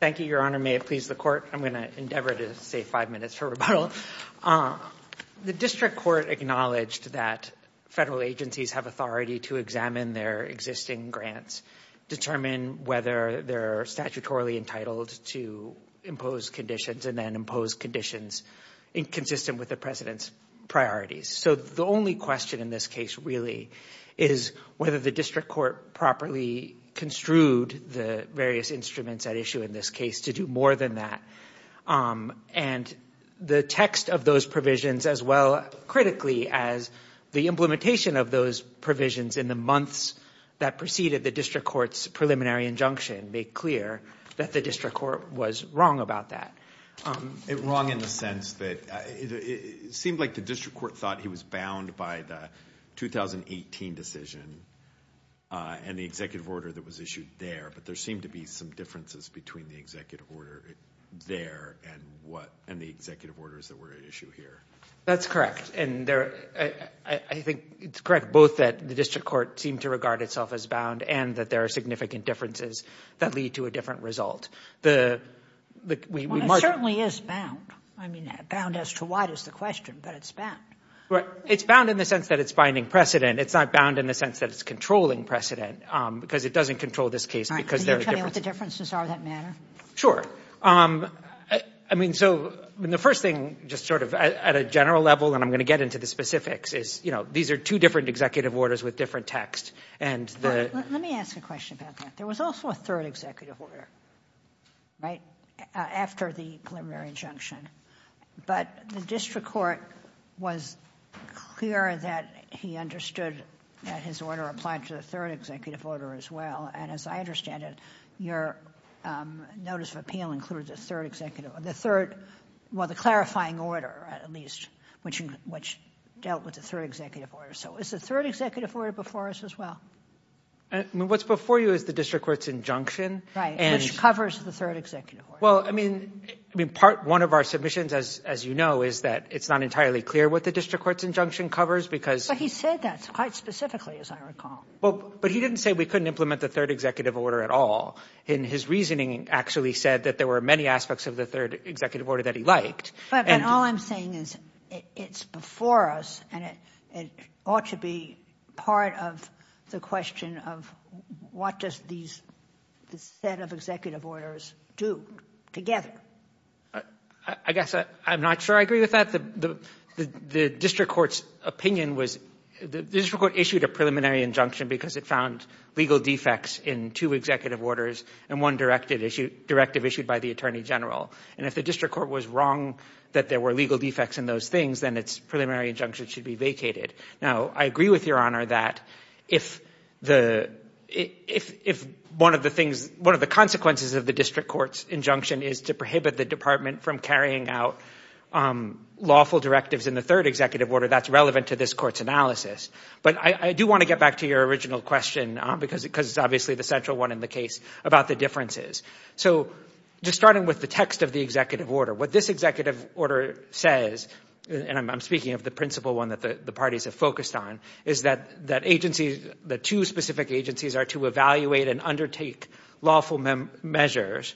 thank you your honor may it please the court I'm gonna endeavor to say five minutes for rebuttal the district court acknowledged that federal agencies have authority to examine their existing grants determine whether they're statutorily entitled to impose conditions and then impose conditions inconsistent with the president's priorities so the only question in this case really is whether the district court properly construed the various instruments at issue in this case to do more than that and the text of those provisions as well critically as the implementation of those provisions in the months that preceded the district courts preliminary injunction make clear that the district court was wrong about that it wrong in the sense that it seemed like the district court thought he was bound by the 2018 decision and the order that was issued there but there seem to be some differences between the executive order there and what and the executive orders that were at issue here that's correct and there I think it's correct both that the district court seemed to regard itself as bound and that there are significant differences that lead to a different result the certainly is bound I mean that bound as to what is the question but it's bad right it's bound in the sense that it's binding precedent it's not bound in the sense that it's controlling precedent because it doesn't control this case because there are differences are that matter sure I mean so when the first thing just sort of at a general level and I'm going to get into the specifics is you know these are two different executive orders with different text and let me ask a question about that there was also a third executive order right after the preliminary injunction but the district court was clear that he understood that his order applied to the third executive order as well and as I understand it your notice of appeal includes a third executive the third while the clarifying order at least which in which dealt with the third executive order so it's the third executive order before us as well what's before you is the district courts injunction right and covers the third executive well I mean I mean part one of our submissions as you know is that it's not entirely clear what the district courts injunction covers because he said that's quite specifically as I recall well but he didn't say we couldn't implement the third executive order at all in his reasoning actually said that there were many aspects of the third executive order that he liked and all I'm saying is it's before us and it ought to be part of the question of what does these the set of executive orders do together I guess I I'm not sure I thought the the district courts opinion was the district court issued a preliminary injunction because it found legal defects in two executive orders and one directed issue directive issued by the Attorney General and if the district court was wrong that there were legal defects in those things then it's preliminary injunction should be vacated now I agree with your honor that if the if if one of the things one of the consequences of the district courts injunction is to prohibit the department from carrying out lawful directives in the third executive order that's relevant to this court's analysis but I do want to get back to your original question because it because obviously the central one in the case about the differences so just starting with the text of the executive order what this executive order says and I'm speaking of the principal one that the parties have focused on is that that agency the two specific agencies are to evaluate and undertake lawful measures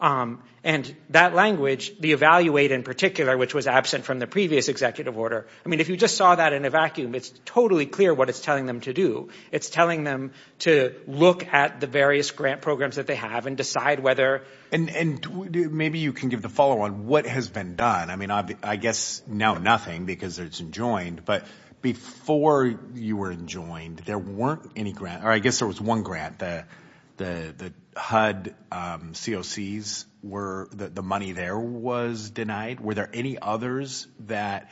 and that language the evaluate in particular which was absent from the previous executive order I mean if you just saw that in a vacuum it's totally clear what it's telling them to do it's telling them to look at the various grant programs that they have and decide whether and and maybe you can give the follow-on what has been done I mean I guess now nothing because it's enjoined but before you were enjoined there weren't any grant or I guess there was one grant that the the HUD COCs were that the money there was denied were there any others that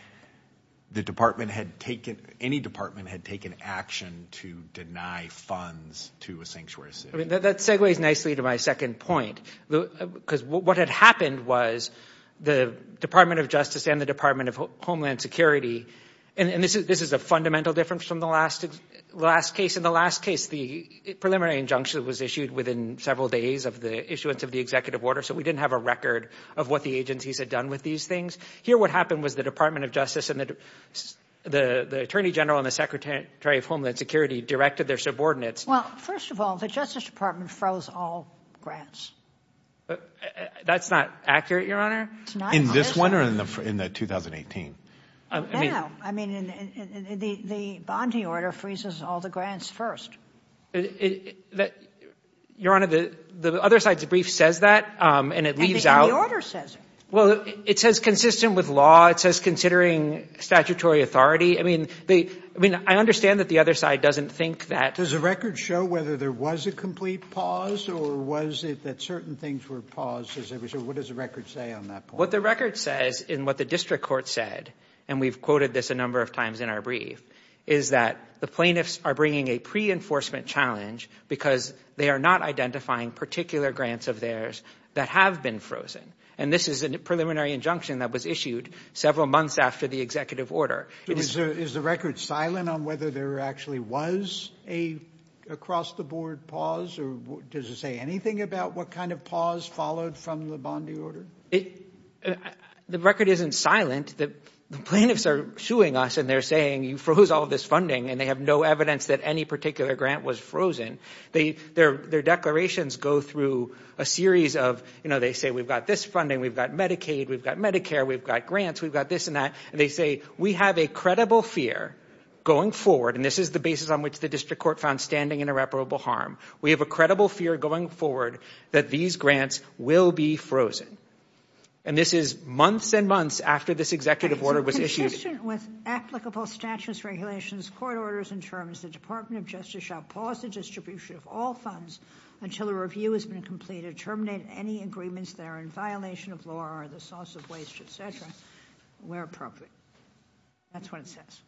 the department had taken any department had taken action to deny funds to a sanctuary that segues nicely to my second point because what had happened was the Department of Justice and the Department of Homeland Security and this is this is a fundamental difference from the last last case in the last case the preliminary injunction was issued within several days of the issuance of the executive order so we didn't have a record of what the agencies had done with these things here what happened was the Department of Justice and that the Attorney General and the Secretary of Homeland Security directed their subordinates well first of all the Justice Department froze all grants but that's not accurate your honor in this in the 2018 I mean the bonding order freezes all the grants first that your honor the the other side's brief says that and it leaves out order says well it says consistent with law it says considering statutory authority I mean they I mean I understand that the other side doesn't think that there's a record show whether there was a complete pause or was it that certain things were what does the record say on that what the record says in what the district court said and we've quoted this a number of times in our brief is that the plaintiffs are bringing a pre-enforcement challenge because they are not identifying particular grants of theirs that have been frozen and this is a preliminary injunction that was issued several months after the executive order is the record silent on whether there actually was a across-the-board pause or does it say anything about what kind of pause followed from the bonding order it the record isn't silent that the plaintiffs are shooing us and they're saying you froze all this funding and they have no evidence that any particular grant was frozen they their their declarations go through a series of you know they say we've got this funding we've got Medicaid we've got Medicare we've got grants we've got this and that and they say we have a credible fear going forward and this is the basis on which the district court found we have a credible fear going forward that these grants will be frozen and this is months and months after this executive order was issued with applicable status regulations court orders in terms the Department of Justice shall pause the distribution of all funds until a review has been completed terminate any agreements there in violation of law or the source of waste etc where appropriate that's what it says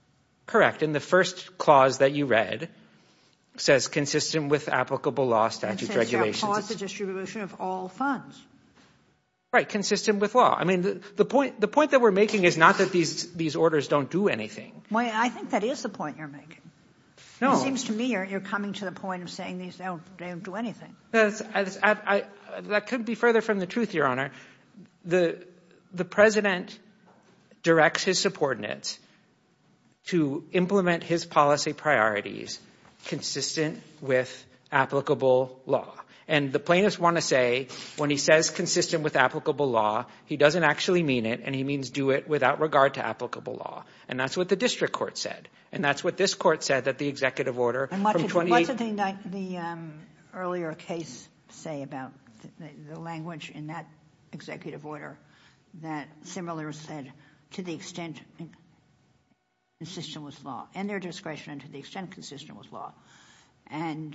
correct in the first clause that he read says consistent with applicable law statute regulations distribution of all funds right consistent with law I mean the point the point that we're making is not that these these orders don't do anything why I think that is the point you're making no seems to me you're coming to the point of saying these don't do anything that's I that couldn't be further from the truth your honor the the president directs his support in it to implement his policy priorities consistent with applicable law and the plaintiffs want to say when he says consistent with applicable law he doesn't actually mean it and he means do it without regard to applicable law and that's what the district court said and that's what this court said that the executive order the earlier case say about the language in that executive order that similar said to the extent system was law and their discretion to the extent consistent with law and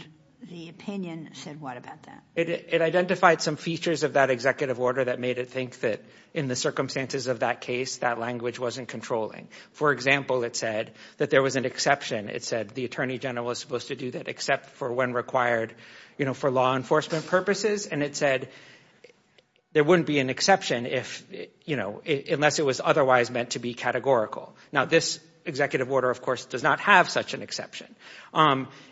the opinion said what about that it identified some features of that executive order that made it think that in the circumstances of that case that language wasn't controlling for example it said that there was an exception it said the Attorney General was supposed to do that except for when required you know for law enforcement purposes and it said there wouldn't be an exception if unless it was otherwise meant to be categorical now this executive order of course does not have such an exception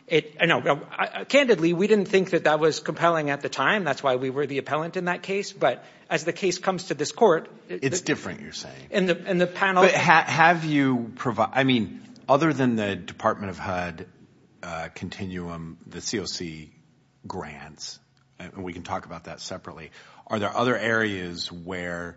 it I know candidly we didn't think that that was compelling at the time that's why we were the appellant in that case but as the case comes to this court it's different you're saying in the in the panel have you provide I mean other than the Department of HUD continuum the COC grants we can talk about that separately are there other areas where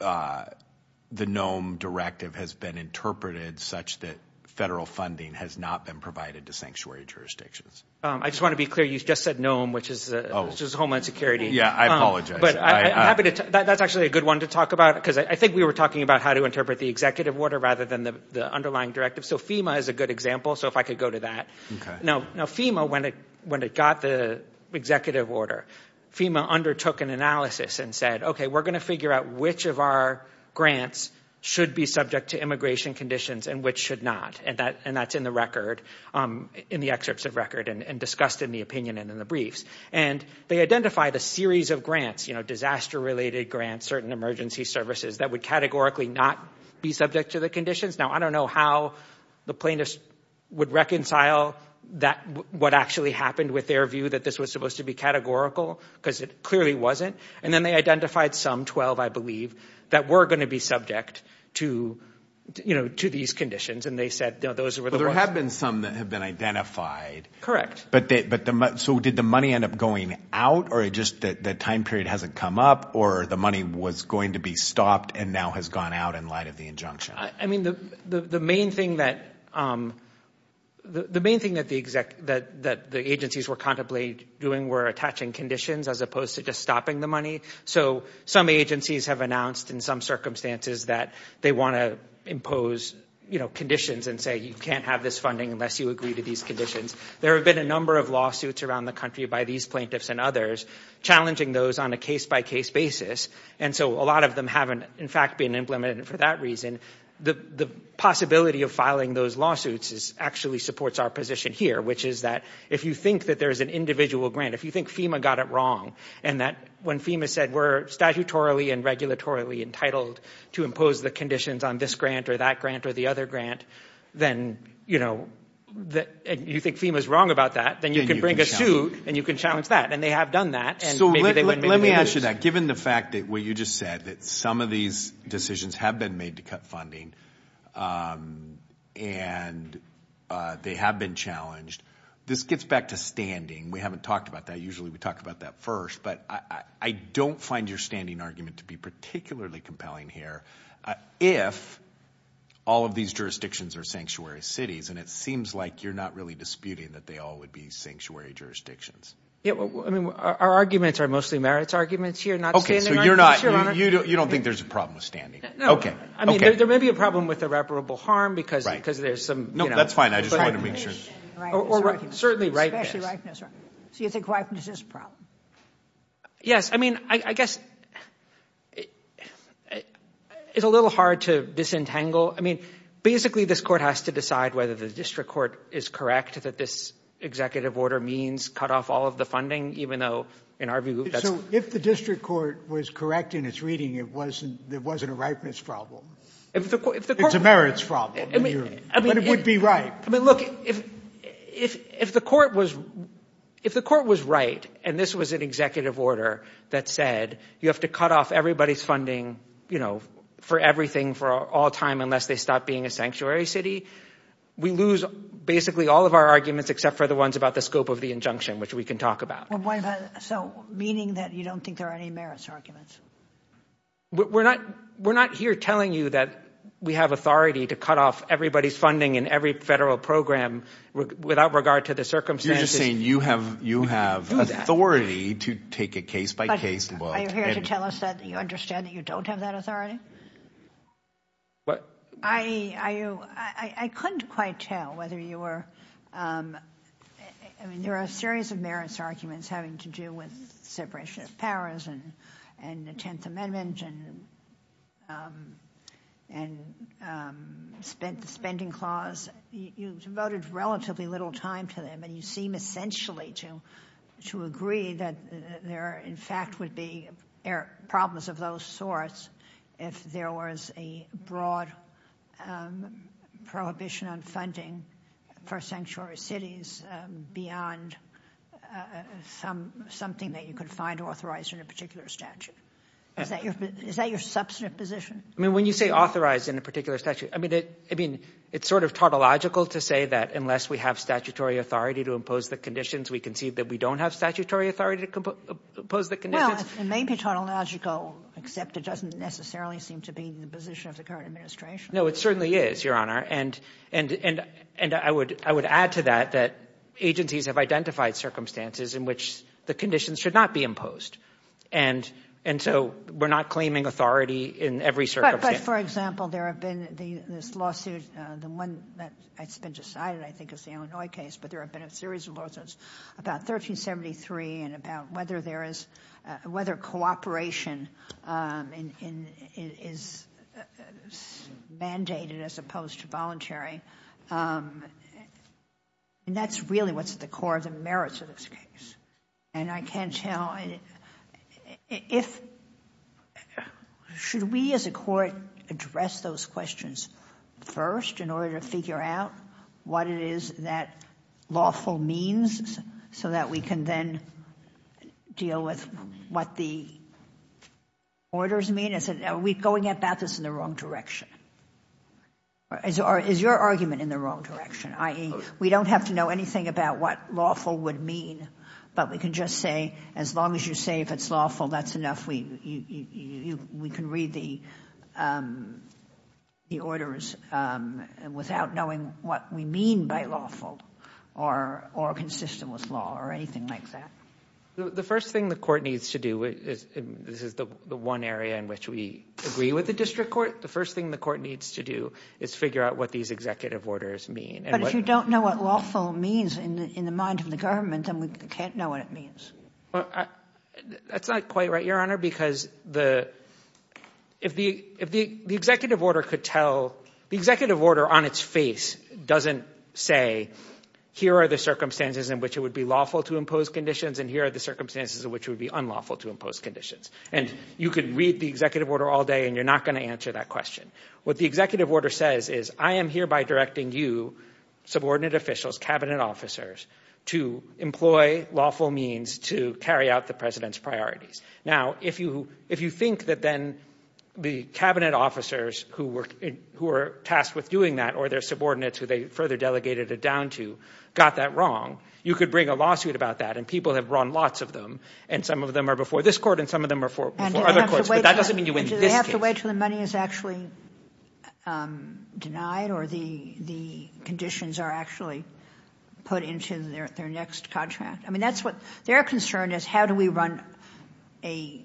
the gnome directive has been interpreted such that federal funding has not been provided to sanctuary jurisdictions I just want to be clear you just said gnome which is just Homeland Security yeah I apologize but I'm happy to that's actually a good one to talk about because I think we were talking about how to interpret the executive order rather than the underlying directive so FEMA is a good example so if I could go to that no no FEMA when it when it got the executive order FEMA undertook an analysis and said okay we're gonna figure out which of our grants should be subject to immigration conditions and which should not and that and that's in the record in the excerpts of record and discussed in the opinion and in the briefs and they identified a series of grants you know disaster related grants certain emergency services that would categorically not be subject to the conditions now I don't know how the plaintiffs would reconcile that what actually happened with their view that this was supposed to be categorical because it clearly wasn't and then they identified some 12 I believe that were going to be subject to you know to these conditions and they said those are there have been some that have been identified correct but they but the mud so did the money end up going out or it just that the time period hasn't come up or the money was going to be stopped and now has gone out in light of the injunction I mean the the main thing that the main thing that the exact that that the agencies were contemplate doing were attaching conditions as opposed to just stopping the money so some agencies have announced in some circumstances that they want to impose you know conditions and say you can't have this funding unless you agree to these conditions there have been a number of lawsuits around the country by these plaintiffs and others challenging those on a case-by-case basis and so a lot of them haven't in fact been implemented for that reason the the possibility of filing those lawsuits is actually supports our position here which is that if you think that there is an individual grant if you think FEMA got it wrong and that when FEMA said we're statutorily and regulatorily entitled to impose the conditions on this grant or that grant or the other grant then you know that you think FEMA is wrong about that then you can bring a suit and you can challenge that and they have done that so let me ask you that given the fact that what you just said that some of these decisions have been made to cut funding and they have been challenged this gets back to standing we haven't talked about that usually we talked about that first but I don't find your standing argument to be particularly compelling here if all of these jurisdictions are sanctuary cities and it seems like you're not really disputing that they all would be sanctuary jurisdictions yeah I mean our arguments are mostly merits arguments you're not okay so you're not you don't think there's a problem with standing okay I mean there may be a problem with irreparable harm because right because there's some no that's fine I just want to make sure certainly right so you think whiteness is problem yes I mean I guess it's a little hard to disentangle I mean basically this court has to decide whether the district court is correct that this executive order means cut off all of the funding even though in our view so if the district court was correct in its reading it wasn't there wasn't a ripeness problem it's a merits problem it would be right I mean look if if the court was if the court was right and this was an executive order that said you have to cut off everybody's funding you know for everything for all time unless they stop being a sanctuary city we lose basically all of our arguments except for the ones about the of the injunction which we can talk about so meaning that you don't think there are any merits arguments we're not we're not here telling you that we have authority to cut off everybody's funding in every federal program without regard to the circumstances saying you have you have authority to take a case-by-case well you're here to tell us that you understand that you don't have that authority what I you I couldn't quite tell whether you were I mean there are a series of merits arguments having to do with separation of powers and and the Tenth Amendment and and spent the spending clause you devoted relatively little time to them and you seem essentially to to agree that there in be air problems of those sorts if there was a broad prohibition on funding for sanctuary cities beyond some something that you could find authorized in a particular statute is that your is that your substantive position I mean when you say authorized in a particular statute I mean it I mean it's sort of tautological to say that unless we have statutory authority to impose the conditions we concede that we don't have statutory authority to compose the conditions maybe tautological except it doesn't necessarily seem to be the position of the current administration no it certainly is your honor and and and and I would I would add to that that agencies have identified circumstances in which the conditions should not be imposed and and so we're not claiming authority in every circumstance for example there have been the this lawsuit the one that I spent aside I think is the Illinois case but there have been a series of lawsuits about 1373 and about whether there is whether cooperation in is mandated as opposed to voluntary and that's really what's at the core of the merits of this case and I can't tell if should we as a court address those questions first in order to figure out what it is that lawful means so that we can then deal with what the orders mean is it are we going about this in the wrong direction as our is your argument in the wrong direction ie we don't have to know anything about what lawful would mean but we can just say as long as you say if it's lawful that's enough we we can read the the orders without knowing what we mean by lawful or or consistent with law or anything like that the first thing the court needs to do is this is the one area in which we agree with the district court the first thing the court needs to do is figure out what these executive orders mean and if you don't know what lawful means in the mind of the government and we can't know what it means that's not quite right your honor because the if the if the the executive order could tell the executive order on its face doesn't say here are the circumstances in which it would be lawful to impose conditions and here are the circumstances in which would be unlawful to impose conditions and you could read the executive order all day and you're not going to answer that question what the executive order says is I am hereby directing you subordinate officials cabinet officers to employ lawful means to carry out the president's priorities now if you if you think that then the cabinet officers who were who are tasked with doing that or their subordinates who they further delegated it down to got that wrong you could bring a lawsuit about that and people have run lots of them and some of them are before this court and some of them are for that doesn't mean you in this way to the money is actually denied or the the conditions are actually put into their next contract I mean that's what their concern is how do we run a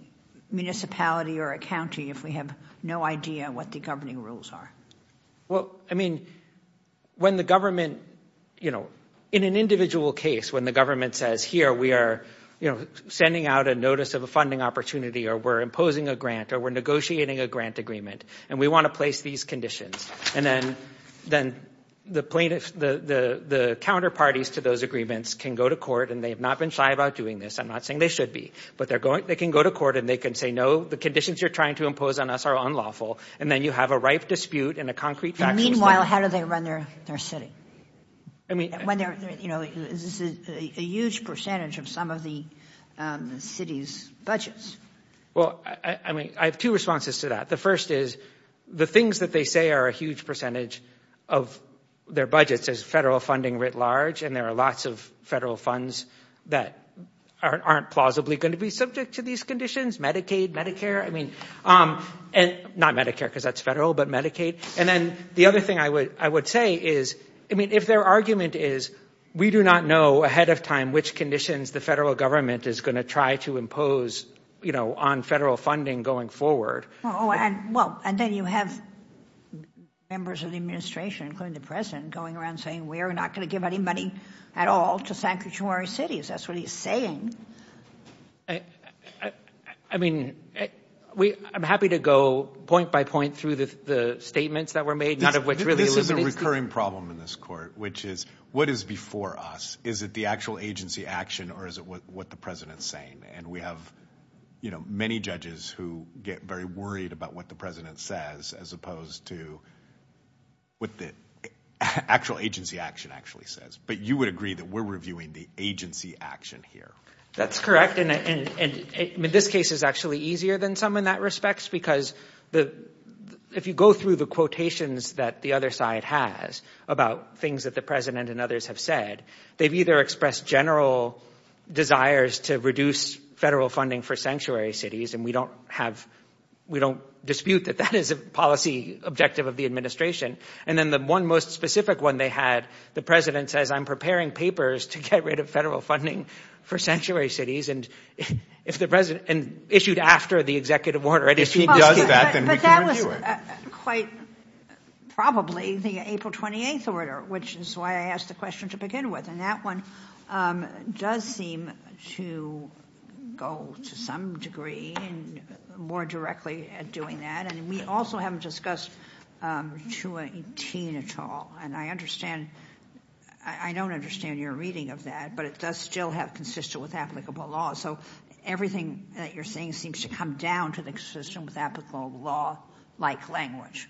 municipality or a county if we have no idea what the governing rules are well I mean when the government you know in an individual case when the government says here we are you know sending out a notice of a funding opportunity or we're imposing a grant or we're negotiating a grant agreement and we want to place these conditions and then then the plaintiffs the the the counterparties to those agreements can go to court and they have not been shy about doing this I'm not saying they should be but they're going they can go to court and they can say no the conditions you're trying to impose on us are unlawful and then you have a ripe dispute and a concrete meanwhile how do they run their their city I mean when they're you know this is a huge percentage of some of the city's budgets well I mean I have two responses to that the first is the things that they say are a huge percentage of their budgets as federal funding writ large and there are lots of federal funds that aren't plausibly going to be subject to these conditions Medicaid Medicare I mean and not Medicare because that's federal but Medicaid and then the other thing I would I would say is I mean if their argument is we do not know ahead of time which conditions the federal government is going to try to impose you know on federal funding going forward oh and well and then you have members of the administration including the president going around saying we are not going to give any money at all to sanctuary cities that's what he's saying I mean we I'm happy to go point by point through the statements that were made none of which really this is a recurring problem in this court which is what is before us is it the actual agency action or is it what the president's saying and we have you know many judges who get very worried about what the president says as opposed to what the actual agency action actually says but you would agree that we're reviewing the agency action here that's correct in it and in this case is actually easier than some in that respects because the if you go through the quotations that the other side has about things that the president and others have said they've either expressed general desires to reduce federal funding for sanctuary cities and we don't have we don't dispute that that is a policy objective of the administration and then the one most specific one they had the president says I'm preparing papers to get rid of federal funding for sanctuary cities and if the president and issued after the executive order and if he does that then quite probably the April 28th order which is why I asked the question to begin with and that one does seem to go to some degree and more directly at doing that and we also haven't discussed 218 at all and I understand I don't understand your reading of that but it does still have consistent with applicable law so everything that you're saying seems to come down to the system with applicable law like language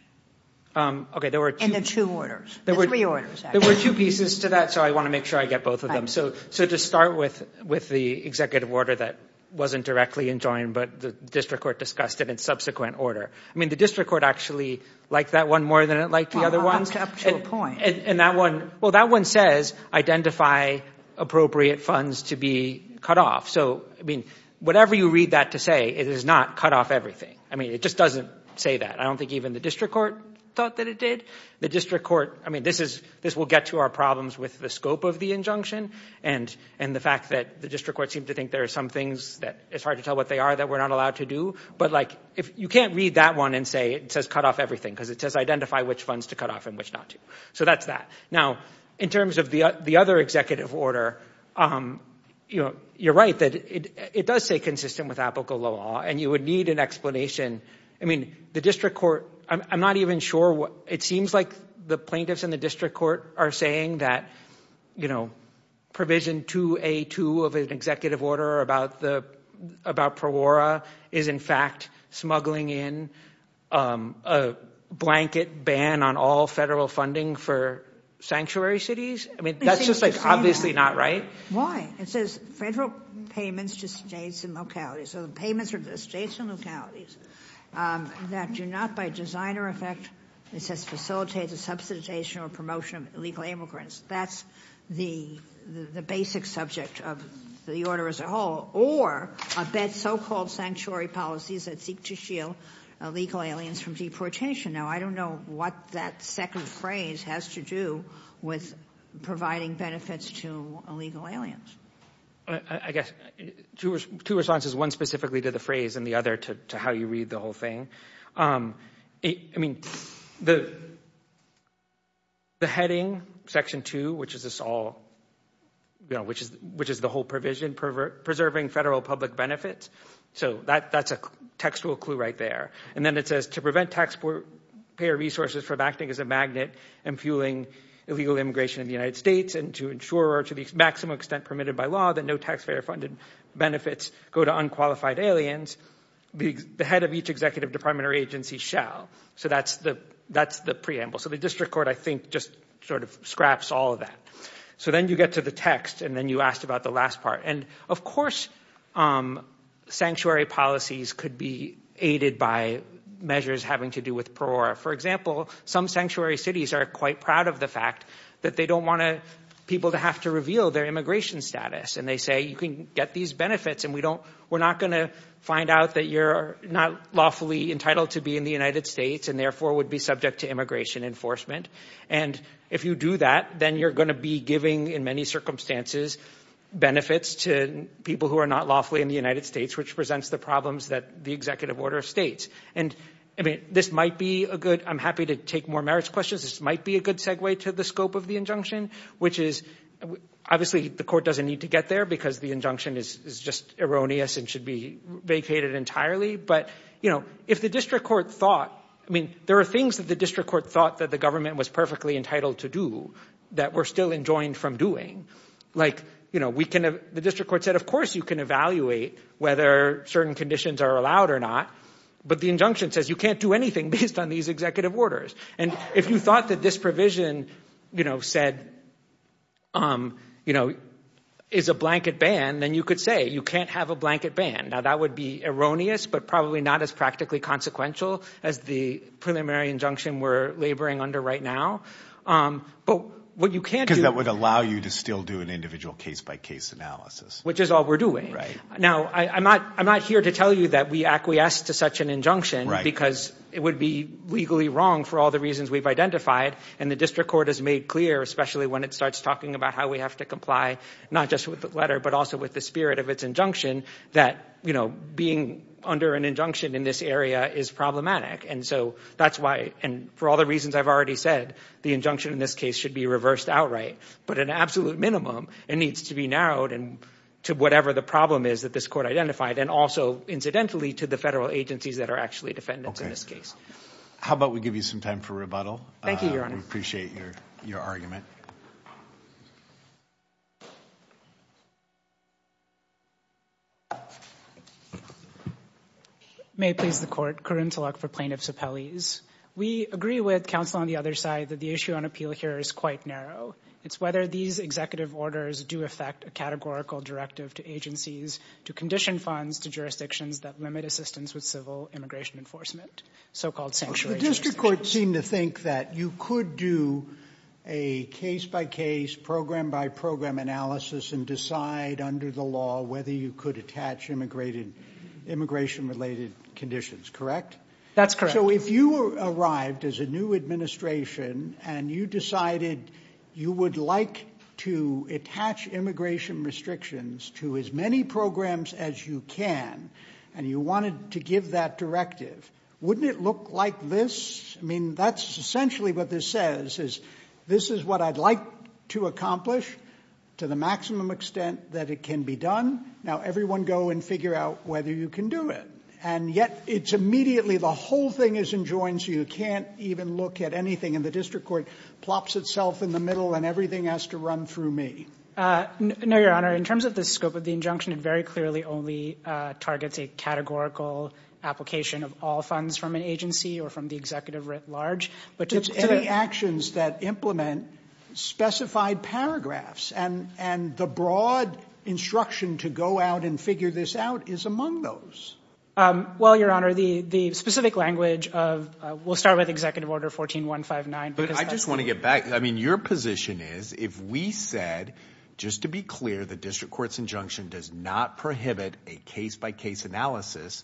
okay there were two orders there were three orders there were two pieces to that so I want to make sure I get both of them so so to start with with the executive order that wasn't directly enjoined but the district court discussed it in subsequent order I mean the district court actually liked that one more than it liked the other ones up to a point and that one well that one says identify appropriate funds to be cut off so I mean whatever you read that to say it is not cut off everything I mean it just doesn't say that I don't think even the district court thought that it did the district court I mean this is this will get to our problems with the scope of the injunction and and the fact that the district court seemed to think there are some things that it's hard to tell what they are that we're not allowed to do but like if you can't read that one and say it says cut off everything because it says identify which funds to cut off and which not to so that's that now in terms of the other executive order you know you're right that it does say consistent with applicable law and you would need an explanation I mean the district court I'm not even sure what it seems like the plaintiffs in the district court are saying that you know provision 2a2 of an executive order about the about pro-ora is in fact smuggling in a blanket ban on all federal funding for sanctuary cities I mean that's just like obviously not right why it says federal payments to states and localities so the payments are the states and localities that do not by designer effect it says facilitate the subsidization or promotion of illegal immigrants that's the the basic subject of the order as a whole or a bed so-called sanctuary policies that seek to shield illegal aliens from deportation now I don't know what that second phrase has to do with providing benefits to illegal aliens I guess two responses one specifically to the phrase and the other to how you read the whole thing I mean the the heading section 2 which is this all you know which is which is the whole provision pervert preserving federal public benefits so that that's a textual clue right there and then it says to prevent taxpayer resources from acting as a and to ensure to the maximum extent permitted by law that no taxpayer funded benefits go to unqualified aliens the head of each executive department or agency shall so that's the that's the preamble so the district court I think just sort of scraps all of that so then you get to the text and then you asked about the last part and of course sanctuary policies could be aided by measures having to do with poor for example some sanctuary cities are quite proud of the fact that they don't want to people to have to reveal their immigration status and they say you can get these benefits and we don't we're not going to find out that you're not lawfully entitled to be in the United States and therefore would be subject to immigration enforcement and if you do that then you're going to be giving in many circumstances benefits to people who are not lawfully in the United States which presents the problems that the executive order of states and I mean this might be a good I'm happy to take more marriage questions this might be a good segue to the scope of the injunction which is obviously the court doesn't need to get there because the injunction is just erroneous and should be vacated entirely but you know if the district court thought I mean there are things that the district court thought that the government was perfectly entitled to do that we're still enjoined from doing like you know we can have the district court said of course you can evaluate whether certain conditions are allowed or not but the injunction says you can't do anything based on these executive orders and if you thought that this provision you know said um you know is a blanket ban then you could say you can't have a blanket ban now that would be erroneous but probably not as practically consequential as the preliminary injunction we're laboring under right now but what you can't do that would allow you to still do an individual case-by-case analysis which is all we're doing right now I'm not I'm here to tell you that we acquiesce to such an injunction because it would be legally wrong for all the reasons we've identified and the district court has made clear especially when it starts talking about how we have to comply not just with the letter but also with the spirit of its injunction that you know being under an injunction in this area is problematic and so that's why and for all the reasons I've already said the injunction in this case should be reversed outright but an absolute minimum it needs to be narrowed and to whatever the problem is that this court identified and also incidentally to the federal agencies that are actually defendants in this case how about we give you some time for rebuttal thank you your honor appreciate your your argument may please the court current elect for plaintiffs appellees we agree with counsel on the other side that the issue on appeal here is quite narrow it's whether these executive orders do affect a categorical directive to agencies to condition funds to jurisdictions that limit assistance with civil immigration enforcement so-called sanctuary district court seem to think that you could do a case-by-case program by program analysis and decide under the law whether you could attach immigrated immigration related conditions correct that's correct so if you arrived as a new administration and you decided you would like to attach immigration restrictions to as many programs as you can and you wanted to give that directive wouldn't it look like this I mean that's essentially what this says is this is what I'd like to accomplish to the maximum extent that it can be done now everyone go and figure out whether you can do it and yet it's immediately the whole thing is enjoined so you can't even look at anything in the district court plops itself in the table and everything has to run through me no your honor in terms of the scope of the injunction and very clearly only targets a categorical application of all funds from an agency or from the executive writ large but just any actions that implement specified paragraphs and and the broad instruction to go out and figure this out is among those well your honor the the specific language of will start with executive order 14159 but I just want to get back I mean your position is if we said just to be clear the district courts injunction does not prohibit a case-by-case analysis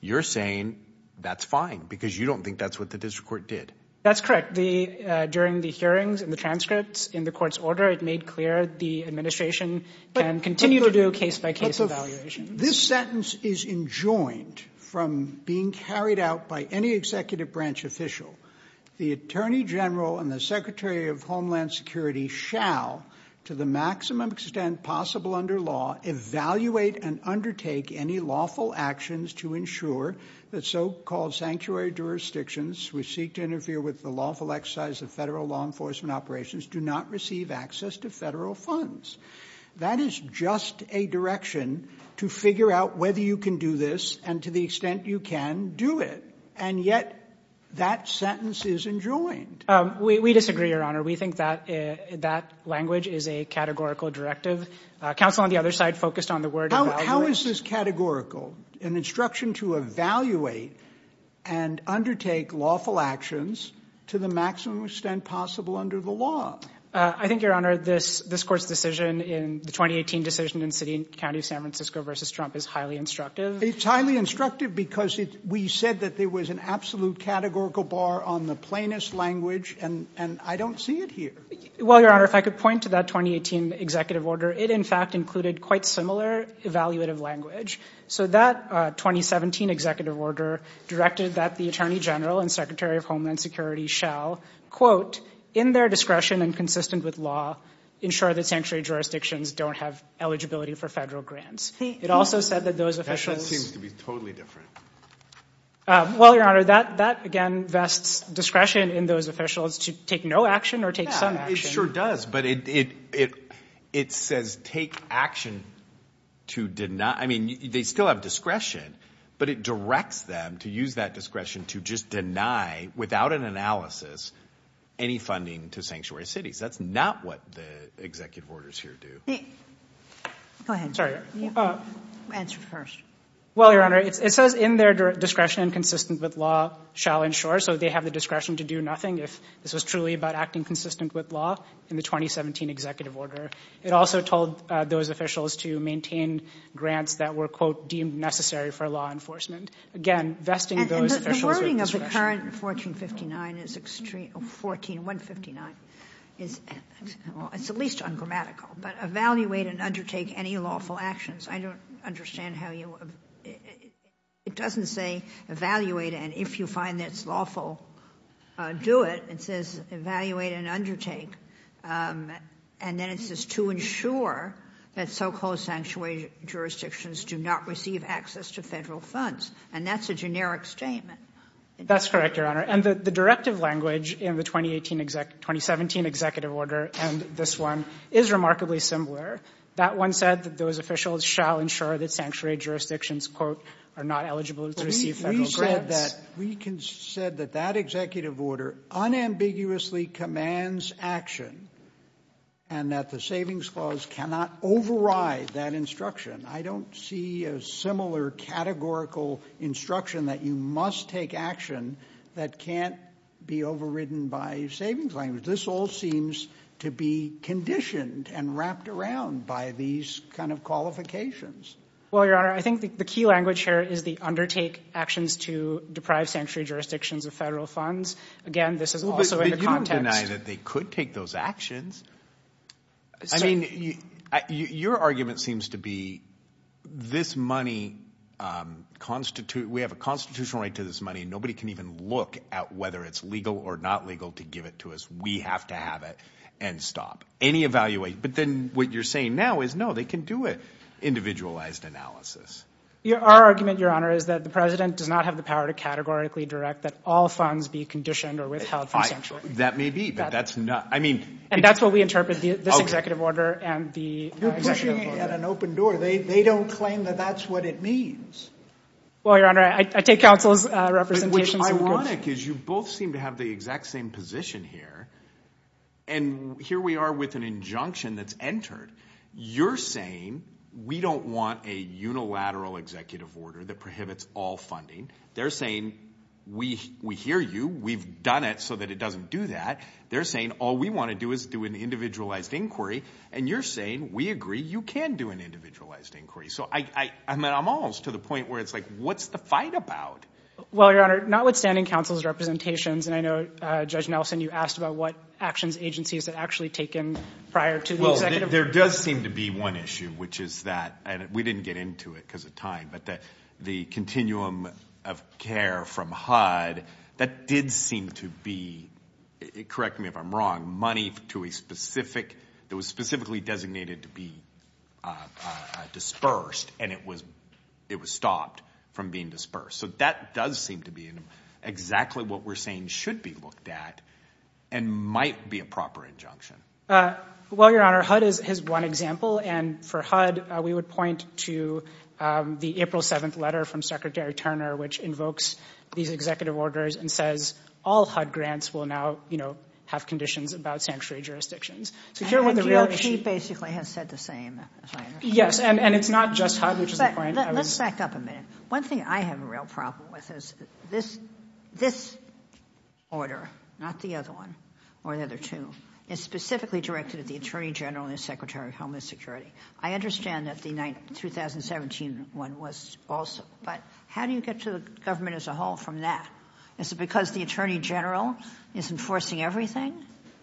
you're saying that's fine because you don't think that's what the district court did that's correct the during the hearings and the transcripts in the court's order it made clear the administration can continue to do a case-by-case evaluation this sentence is enjoined from being carried out by any executive branch official the Attorney General and the Secretary of Homeland Security shall to the maximum extent possible under law evaluate and undertake any lawful actions to ensure that so-called sanctuary jurisdictions we seek to interfere with the lawful exercise of federal law enforcement operations do not receive access to federal funds that is just a direction to figure out whether you can do this and to the extent you can do it and yet that sentence is enjoined we disagree your honor we think that that language is a categorical directive counsel on the other side focused on the word how is this categorical an instruction to evaluate and undertake lawful actions to the maximum extent possible under the law I think your honor this this court's decision in the 2018 decision in City and County of San Francisco versus Trump is highly instructive it's highly instructive because it we said that there was an absolute categorical bar on the plainest language and and I don't see it here well your honor if I could point to that 2018 executive order it in fact included quite similar evaluative language so that 2017 executive order directed that the Attorney General and Secretary of Homeland Security shall quote in their discretion and consistent with law ensure that sanctuary jurisdictions don't have eligibility for grants it also said that those officials seem to be totally different well your honor that that again vests discretion in those officials to take no action or take some it sure does but it it it says take action to deny I mean they still have discretion but it directs them to use that discretion to just deny without an analysis any funding to sanctuary cities that's not what the executive orders here do answer first well your honor it says in their discretion and consistent with law shall ensure so they have the discretion to do nothing if this was truly about acting consistent with law in the 2017 executive order it also told those officials to maintain grants that were quote deemed necessary for law enforcement again vesting those 1459 is extreme 14159 is it's at least ungrammatical but evaluate and undertake any lawful actions I don't understand how you it doesn't say evaluate and if you find that's lawful do it it says evaluate and undertake and then it says to ensure that so-called sanctuary jurisdictions do not receive access to funds and that's a generic statement that's correct your honor and the directive language in the 2018 exact 2017 executive order and this one is remarkably similar that one said that those officials shall ensure that sanctuary jurisdictions quote are not eligible to receive federal grant that we can said that that executive order unambiguously commands action and that the Savings Clause cannot override that instruction I don't see a similar categorical instruction that you must take action that can't be overridden by savings language this all seems to be conditioned and wrapped around by these kind of qualifications well your honor I think the key language here is the undertake actions to deprive sanctuary jurisdictions of federal funds again this is also in the context that they could take those actions I mean you your argument seems to be this money constitute we have a constitutional right to this money nobody can even look at whether it's legal or not legal to give it to us we have to have it and stop any evaluate but then what you're saying now is no they can do it individualized analysis your argument your honor is that the president does not have the power to categorically direct that all funds be conditioned or withheld from sanctuary that may be but that's not I mean and that's what we interpret the executive order and the an open door they don't claim that that's what it means well your honor I take counsel's representation which ironic is you both seem to have the exact same position here and here we are with an injunction that's entered you're saying we don't want a unilateral executive order that prohibits all funding they're saying we we hear you we've done it so that it doesn't do that they're saying all we want to do is do an individualized inquiry and you're saying we agree you can do an individualized inquiry so I I mean I'm almost to the point where it's like what's the fight about well your honor notwithstanding counsel's representations and I know judge Nelson you asked about what actions agencies that actually taken prior to well there does seem to be one issue which is that and we didn't get into it because of time but that the continuum of care from HUD that did seem to be it correct me if I'm wrong money to a specific that was specifically designated to be dispersed and it was it was stopped from being dispersed so that does seem to be in exactly what we're saying should be looked at and might be a proper injunction well your honor HUD is his one example and for HUD we would point to the April 7th letter from Secretary Turner which invokes these executive jurisdictions basically has said the same yes and and it's not just one thing I have a real problem with is this this order not the other one or the other two is specifically directed at the Attorney General and Secretary of Homeland Security I understand that the night 2017 one was also but how do you get to the government as a whole from that it's because the Attorney General is enforcing everything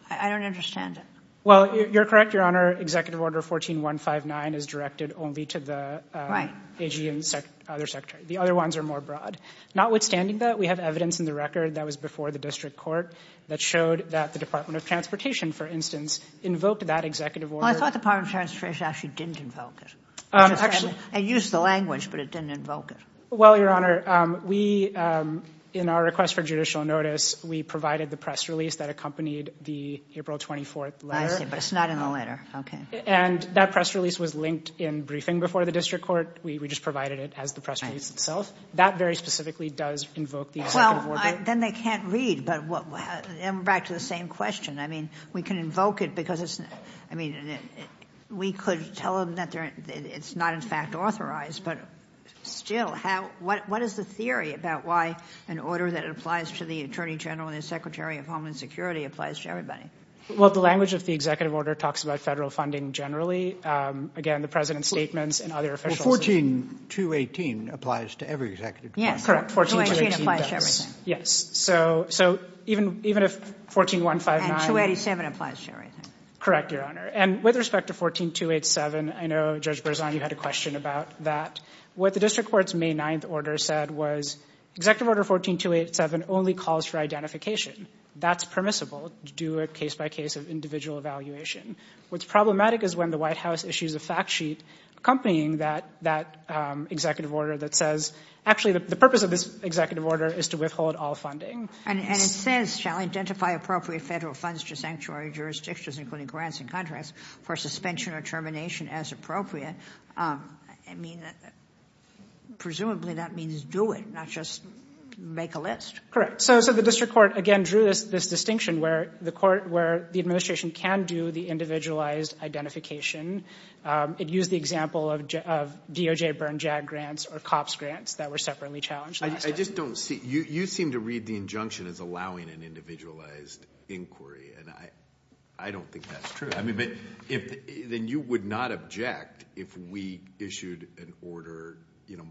I don't understand it well you're correct your honor executive order 14159 is directed only to the right AG and the other secretary the other ones are more broad notwithstanding that we have evidence in the record that was before the district court that showed that the Department of Transportation for instance invoked that executive order I thought the part of transportation actually didn't invoke it actually I use the language but it didn't invoke it well your honor we in our request for judicial notice we provided the press release that accompanied the April 24th letter but it's not in the letter okay and that press release was linked in briefing before the district court we just provided it as the press release itself that very specifically does invoke the well then they can't read but what back to the same question I mean we can invoke it because it's I mean we could tell them that there it's not in fact authorized but still how what what is the theory about why an order that applies to the Attorney General and the Secretary of Homeland Security applies to everybody well the language of the executive order talks about federal funding generally again the president's statements and other officials 14 to 18 applies to every executive yeah correct 14 yes so so even even if 14159 287 applies to everything correct your honor and with respect to 14287 I know Judge Berzon you had a question about that what the district court's May 9th order said was executive order 14287 only calls for identification that's permissible to do a case-by-case of individual evaluation what's problematic is when the White House issues a fact sheet accompanying that that executive order that says actually the purpose of this executive order is to withhold all funding and it says shall identify appropriate federal funds to sanctuary jurisdictions including grants and contracts for suspension or termination as appropriate I mean presumably that means do it not just make a list correct so so the district court again drew this this distinction where the court where the administration can do the individualized identification it used the example of DOJ burn jag grants or cops grants that were separately challenged I just don't see you you seem to read the injunction as allowing an individualized inquiry and I I don't think that's true I mean but if then you would not object if we issued an order you know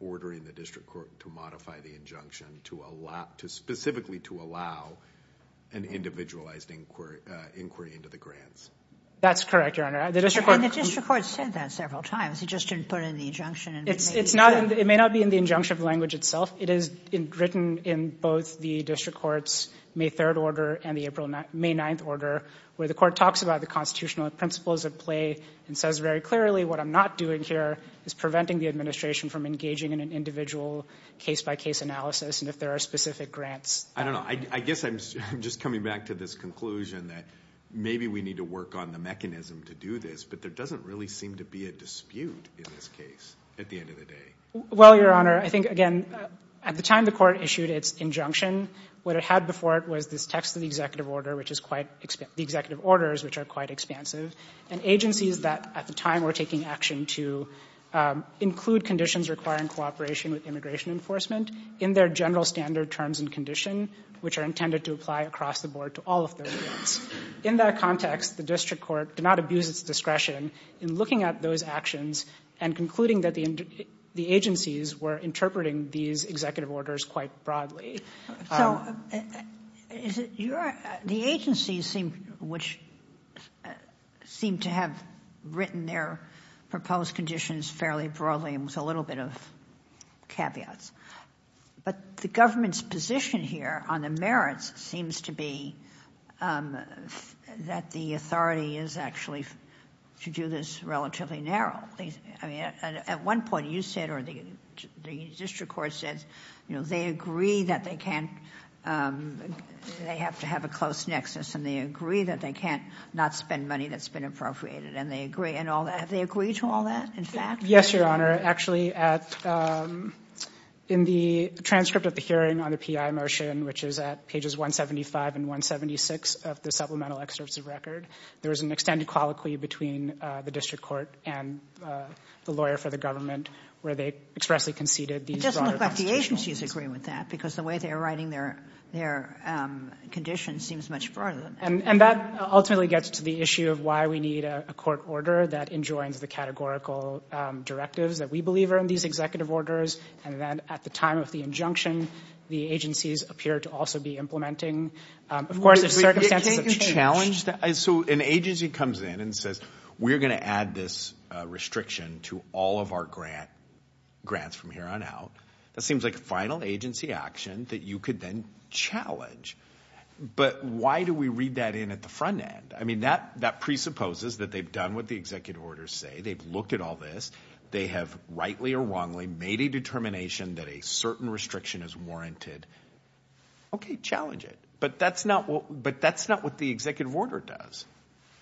ordering the district court to modify the injunction to a lot to specifically to allow an individualized inquiry inquiry into the grants that's correct your honor the district and the district court said that several times he just didn't put in the injunction and it's it's not it may not be in the injunction of language itself it is in written in both the district courts May 3rd order and the April May 9th order where the court talks about the constitutional principles of play and says very clearly what I'm not doing here is preventing the administration from engaging in an individual case-by-case analysis and if there are specific grants I don't know I guess I'm just coming back to this conclusion that maybe we need to work on the mechanism to do this but there doesn't really seem to be a dispute in this case at the end of the day well your honor I think again at the time the court issued its injunction what it had before it was this text of the executive order which is quite expensive the executive orders which are quite expansive and agencies that at the time were taking action to include conditions requiring cooperation with immigration enforcement in their general standard terms and condition which are intended to apply across the board to all of those in that context the district court did not abuse its discretion in looking at those actions and concluding that the agencies were interpreting these executive orders quite broadly so is it your the agency seemed which seemed to have written their proposed conditions fairly broadly and with a little bit of caveats but the government's position here on the merits seems to be that the authority is actually to do this relatively narrowly at one point you said or the district court says you know they agree that they can't they have to have a close nexus and they agree that they can't not spend money that's been appropriated and they agree and all that they agree to all that in fact yes your honor actually at in the transcript of the hearing on the PI motion which is at pages 175 and 176 of the supplemental excerpts of record there was an extended colloquy between the district court and the lawyer for government where they expressly conceded these agencies agree with that because the way they are writing their their condition seems much broader and and that ultimately gets to the issue of why we need a court order that enjoins the categorical directives that we believe are in these executive orders and then at the time of the injunction the agencies appear to also be implementing of course it's a challenge that is so an agency comes in and says we're gonna add this restriction to all of our grant grants from here on out that seems like a final agency action that you could then challenge but why do we read that in at the front end I mean that that presupposes that they've done what the executive orders say they've looked at all this they have rightly or wrongly made a determination that a certain restriction is warranted okay challenge it but that's not what but that's not what the executive order does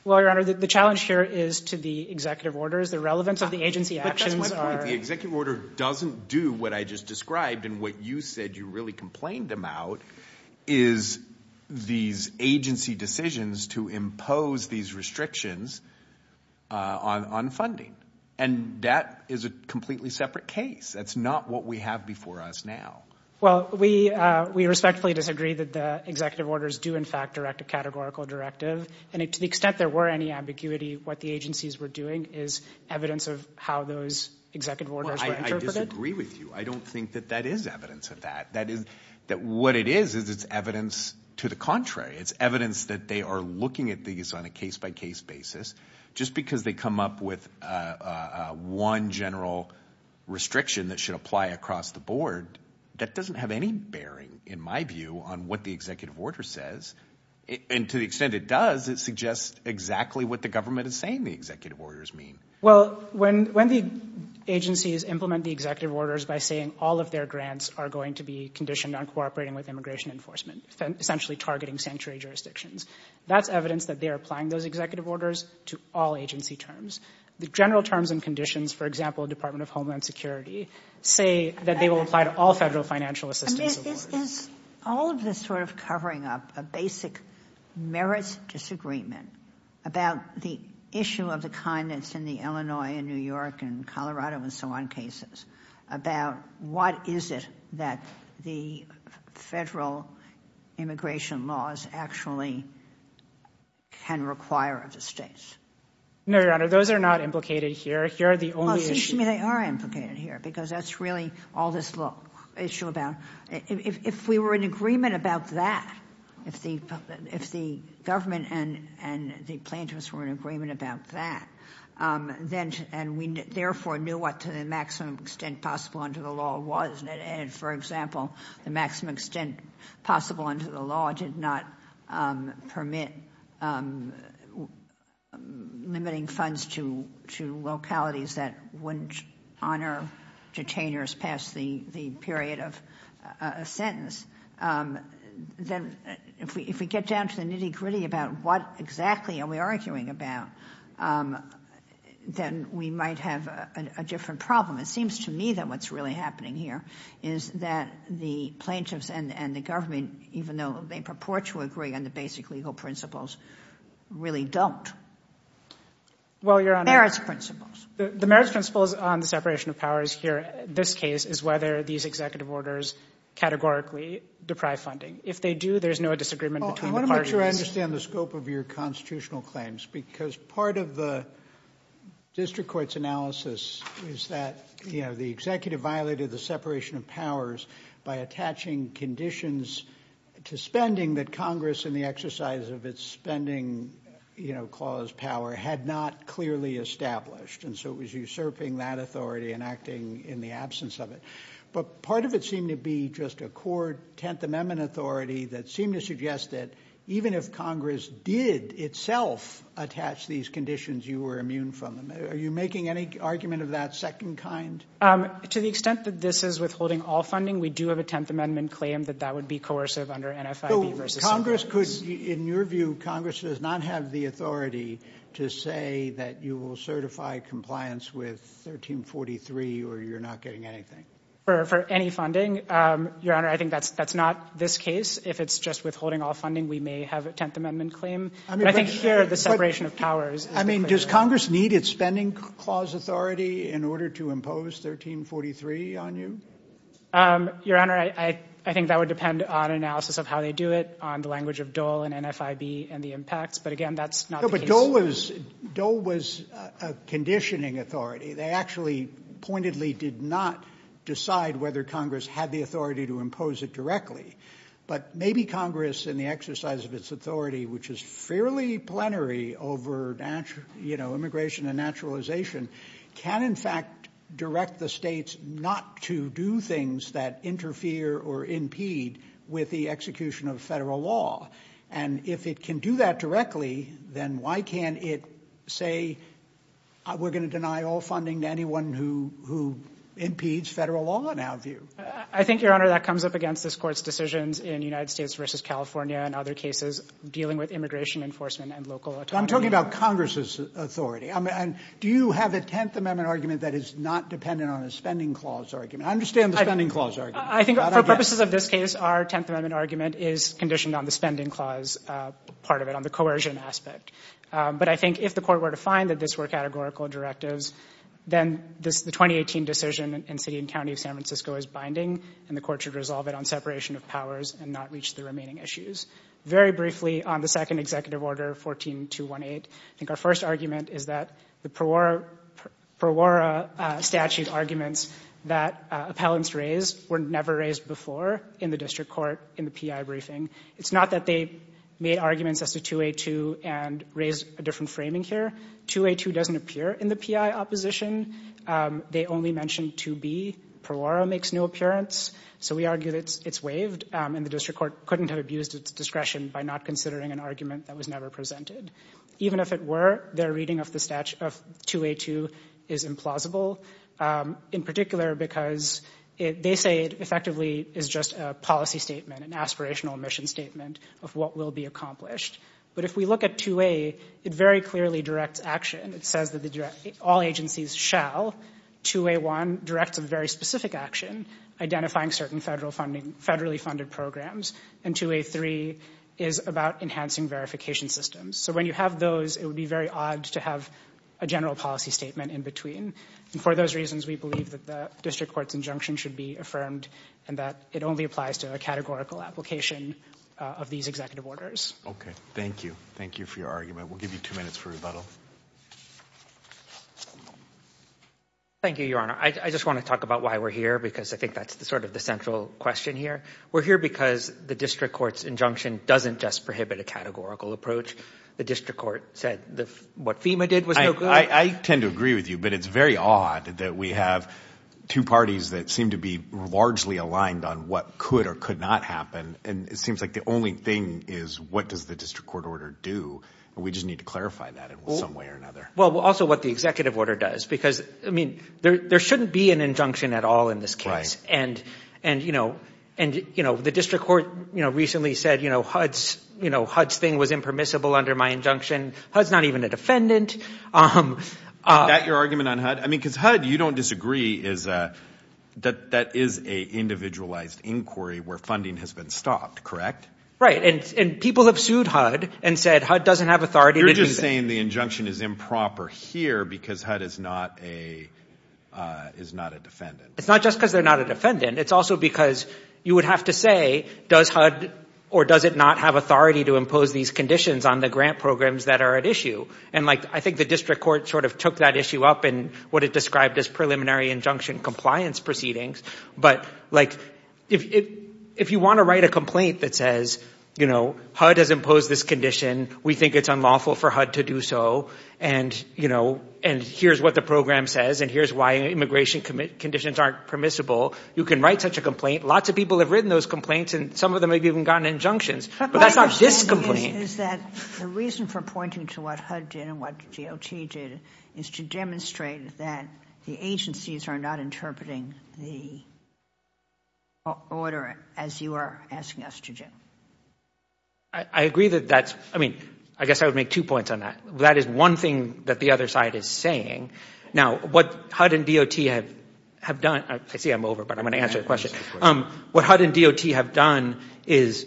well your honor the challenge here is to the executive orders the relevance of the agency actions the executive order doesn't do what I just described and what you said you really complained them out is these agency decisions to impose these restrictions on funding and that is a completely separate case that's not what we have before us now well we we respectfully disagree that the executive orders do in fact direct a categorical directive and it to the extent there were any ambiguity what the agencies were doing is evidence of how those executive orders I disagree with you I don't think that that is evidence of that that is that what it is is it's evidence to the contrary it's evidence that they are looking at these on a case-by-case basis just because they come up with one general restriction that should apply across the board that doesn't have any bearing in my view on what the executive order says and to the extent it does it suggests exactly what the government is saying the executive orders mean well when when the agencies implement the executive orders by saying all of their grants are going to be conditioned on cooperating with immigration enforcement essentially targeting sanctuary jurisdictions that's evidence that they are applying those executive orders to all agency terms the general terms and conditions for example Department of Homeland Security say that they will apply to all federal financial assistance all of this sort of covering up a basic merits disagreement about the issue of the kindness in the Illinois and New York and Colorado and so on cases about what is it that the federal immigration laws actually can require of the states no your honor those are not implicated here here they are implicated here because that's really all this law issue about if we were in agreement about that if the if the government and and the plaintiffs were in agreement about that then and we therefore knew what to the maximum extent possible under the law wasn't it and for example the maximum extent possible under the law did not permit limiting funds to two localities that wouldn't honor detainers past the the period of a sentence then if we get down to the nitty-gritty about what exactly are we arguing about then we might have a different problem it seems to me that what's really happening here is that the plaintiffs and and the basic legal principles really don't well your honor it's principles the marriage principles on the separation of powers here this case is whether these executive orders categorically deprived funding if they do there's no disagreement I want to make sure I understand the scope of your constitutional claims because part of the district courts analysis is that you know the executive violated the separation of powers by attaching conditions to spending that Congress in the exercise of its spending you know clause power had not clearly established and so it was usurping that authority and acting in the absence of it but part of it seemed to be just a court Tenth Amendment authority that seemed to suggest that even if Congress did itself attach these conditions you were immune from them are you making any argument of that second kind to the extent that this is withholding all funding we do have a Tenth Amendment claim that that would be coercive under NFI versus Congress could in your view Congress does not have the authority to say that you will certify compliance with 1343 or you're not getting anything for any funding your honor I think that's that's not this case if it's just withholding all funding we may have a Tenth Amendment claim I think here the separation of powers I mean does Congress need its spending clause authority in order to impose 1343 on you your honor I I think that would depend on analysis of how they do it on the language of Dole and NFIB and the impacts but again that's not but Dole was Dole was a conditioning authority they actually pointedly did not decide whether Congress had the authority to impose it directly but maybe Congress in the exercise of its authority which is fairly plenary over natural you know immigration and naturalization can in fact direct the states not to do things that interfere or impede with the execution of federal law and if it can do that directly then why can't it say we're gonna deny all funding to anyone who who impedes federal law now view I think your honor that comes up against this courts decisions in United States versus California and other cases dealing with immigration enforcement and local I'm Congress's authority I mean do you have a Tenth Amendment argument that is not dependent on a spending clause argument I understand the spending clause I think for purposes of this case our Tenth Amendment argument is conditioned on the spending clause part of it on the coercion aspect but I think if the court were to find that this were categorical directives then this the 2018 decision in city and county of San Francisco is binding and the court should resolve it on separation of powers and not reach the remaining issues very briefly on the second executive order 14 to 1 8 I think our first argument is that the per war per war statute arguments that appellants raised were never raised before in the district court in the PI briefing it's not that they made arguments as to to a to and raise a different framing here to a to doesn't appear in the PI opposition they only mentioned to be per war makes no appearance so we argue that it's waived and the district court couldn't have discretion by not considering an argument that was never presented even if it were their reading of the statute of to a to is implausible in particular because if they say it effectively is just a policy statement an aspirational mission statement of what will be accomplished but if we look at to a it very clearly directs action it says that the direct all agencies shall to a one directs a very specific action identifying certain federal funding federally funded programs and to a three is about enhancing verification systems so when you have those it would be very odd to have a general policy statement in between and for those reasons we believe that the district courts injunction should be affirmed and that it only applies to a categorical application of these executive orders okay thank you thank you for your argument we'll give you two minutes for rebuttal thank you your honor I just want to talk about why we're here because I think that's the sort of the central question here we're here because the district courts injunction doesn't just prohibit a categorical approach the district court said the what FEMA did was I tend to agree with you but it's very odd that we have two parties that seem to be largely aligned on what could or could not happen and it seems like the only thing is what does the district court order do and we just need to clarify that in some way or another well also what the executive order does because I mean there there shouldn't be an injunction at all in this case and and you know and you know the district court you know recently said you know hud's you know hud's thing was impermissible under my injunction hud's not even a defendant um that your argument on hud I mean cuz hud you don't disagree is that that is a individualized inquiry where funding has been stopped correct right and people have sued hud and said hud doesn't have authority you're just saying the injunction is improper here because hud is not a is not a defendant it's not just because they're not a defendant it's also because you would have to say does hud or does it not have authority to impose these conditions on the grant programs that are at issue and like I think the district court sort of took that issue up and what it described as preliminary injunction compliance proceedings but like if if you want to write a complaint that says you know hud has imposed this condition we think it's unlawful for hud to do so and you know and here's what the program says and here's why immigration commit conditions aren't permissible you can write such a complaint lots of people have written those complaints and some of them have even gotten injunctions but that's not this complaint is that the reason for pointing to what hud did and what got did is to demonstrate that the agencies are not interpreting the order as you are asking us to do I agree that that's I mean I guess I would make two points on that that is one thing that the other side is saying now what hud and DOT have have done I see I'm over but I'm gonna answer the question um what hud and DOT have done is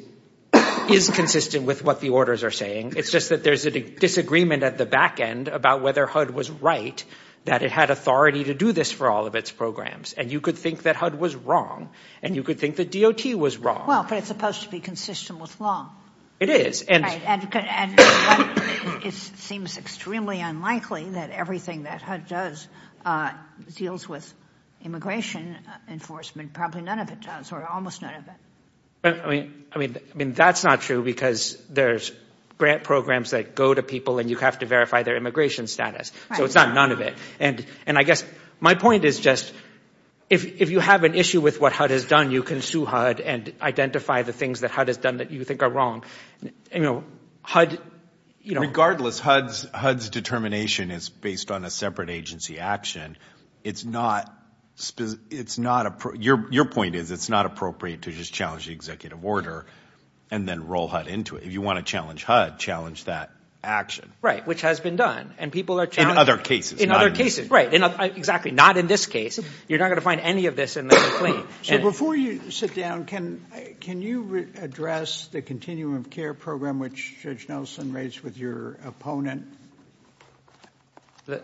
is consistent with what the orders are saying it's just that there's a disagreement at the back end about whether hud was right that it had authority to do this for all of its programs and you could think that hud was wrong and you could think that DOT was wrong well but it's supposed to be consistent with law it is and it seems extremely unlikely that everything that hud does deals with immigration enforcement probably none of it does or almost none of it I mean I mean I mean that's not true because there's grant programs that go to people and you have to verify their immigration status so it's not none of it and and I guess my point is just if you have an issue with what hud has done you can sue hud and identify the things that hud has done that you think are wrong you know hud you know regardless hud's hud's determination is based on a separate agency action it's not it's not a your your point is it's not appropriate to just challenge the executive order and then roll hud into it if you want to challenge hud challenge that action right which has been done and people are in other cases in other cases right and exactly not in this case you're not going to find any of this in the complaint so before you sit down can can you address the continuum of care program which judge Nelson raised with your opponent that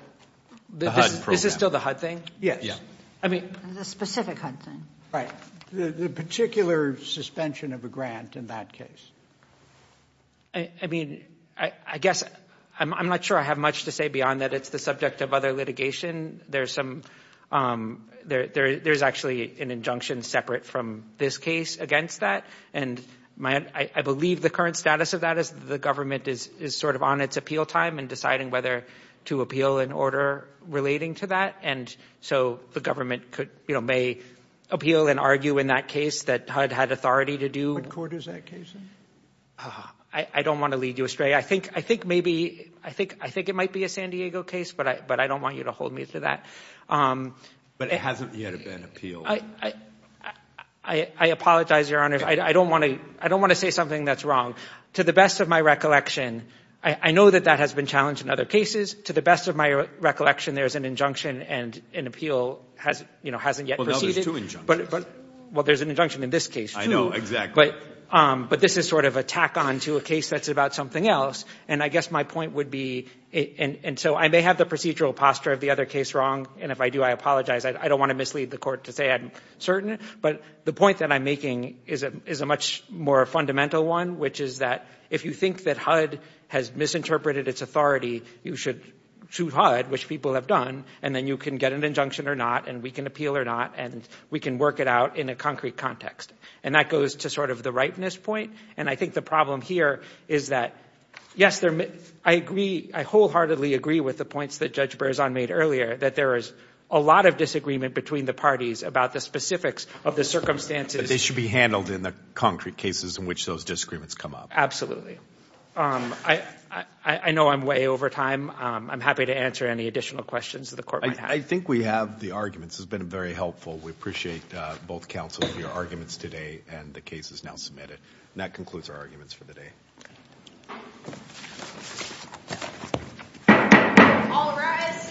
this is still the hud thing yes yeah I mean the specific hunting right the particular suspension of a grant in that case I mean I guess I'm not sure I have much to say beyond that it's the subject of other litigation there's some there there's actually an injunction separate from this case against that and my I believe the current status of that is the government is is sort of on its appeal time and deciding whether to appeal an order relating to that and so the government could you know may appeal and argue in that case that hud had authority to do in court is that case I don't want to lead you astray I think I think maybe I think I think it might be a San Diego case but I but I don't want you to hold me to that I I apologize your honor I don't want to I don't want to say something that's wrong to the best of my recollection I know that that has been challenged in other cases to the best of my recollection there's an injunction and an appeal has you know hasn't yet but but well there's an injunction in this case I know exactly but this is sort of attack on to a case that's about something else and I guess my point would be and so I may have the procedural posture of the other case wrong and if I do I apologize I don't want to mislead the court to say I'm certain but the point that I'm making is it is a much more fundamental one which is that if you think that hud has misinterpreted its authority you should shoot hud which people have done and then you can get an injunction or not and we can appeal or not and we can work it out in a concrete context and that goes to sort of the ripeness point and I think the problem here is that yes there may I agree I wholeheartedly agree with the points that judge Berzon made earlier that there is a lot of disagreement between the parties about the specifics of the circumstances they should be handled in the concrete cases in which those disagreements come up absolutely I I know I'm way over time I'm happy to answer any additional questions of the court I think we have the arguments has been very helpful we appreciate both counsel of your the case is now submitted that concludes our arguments for the day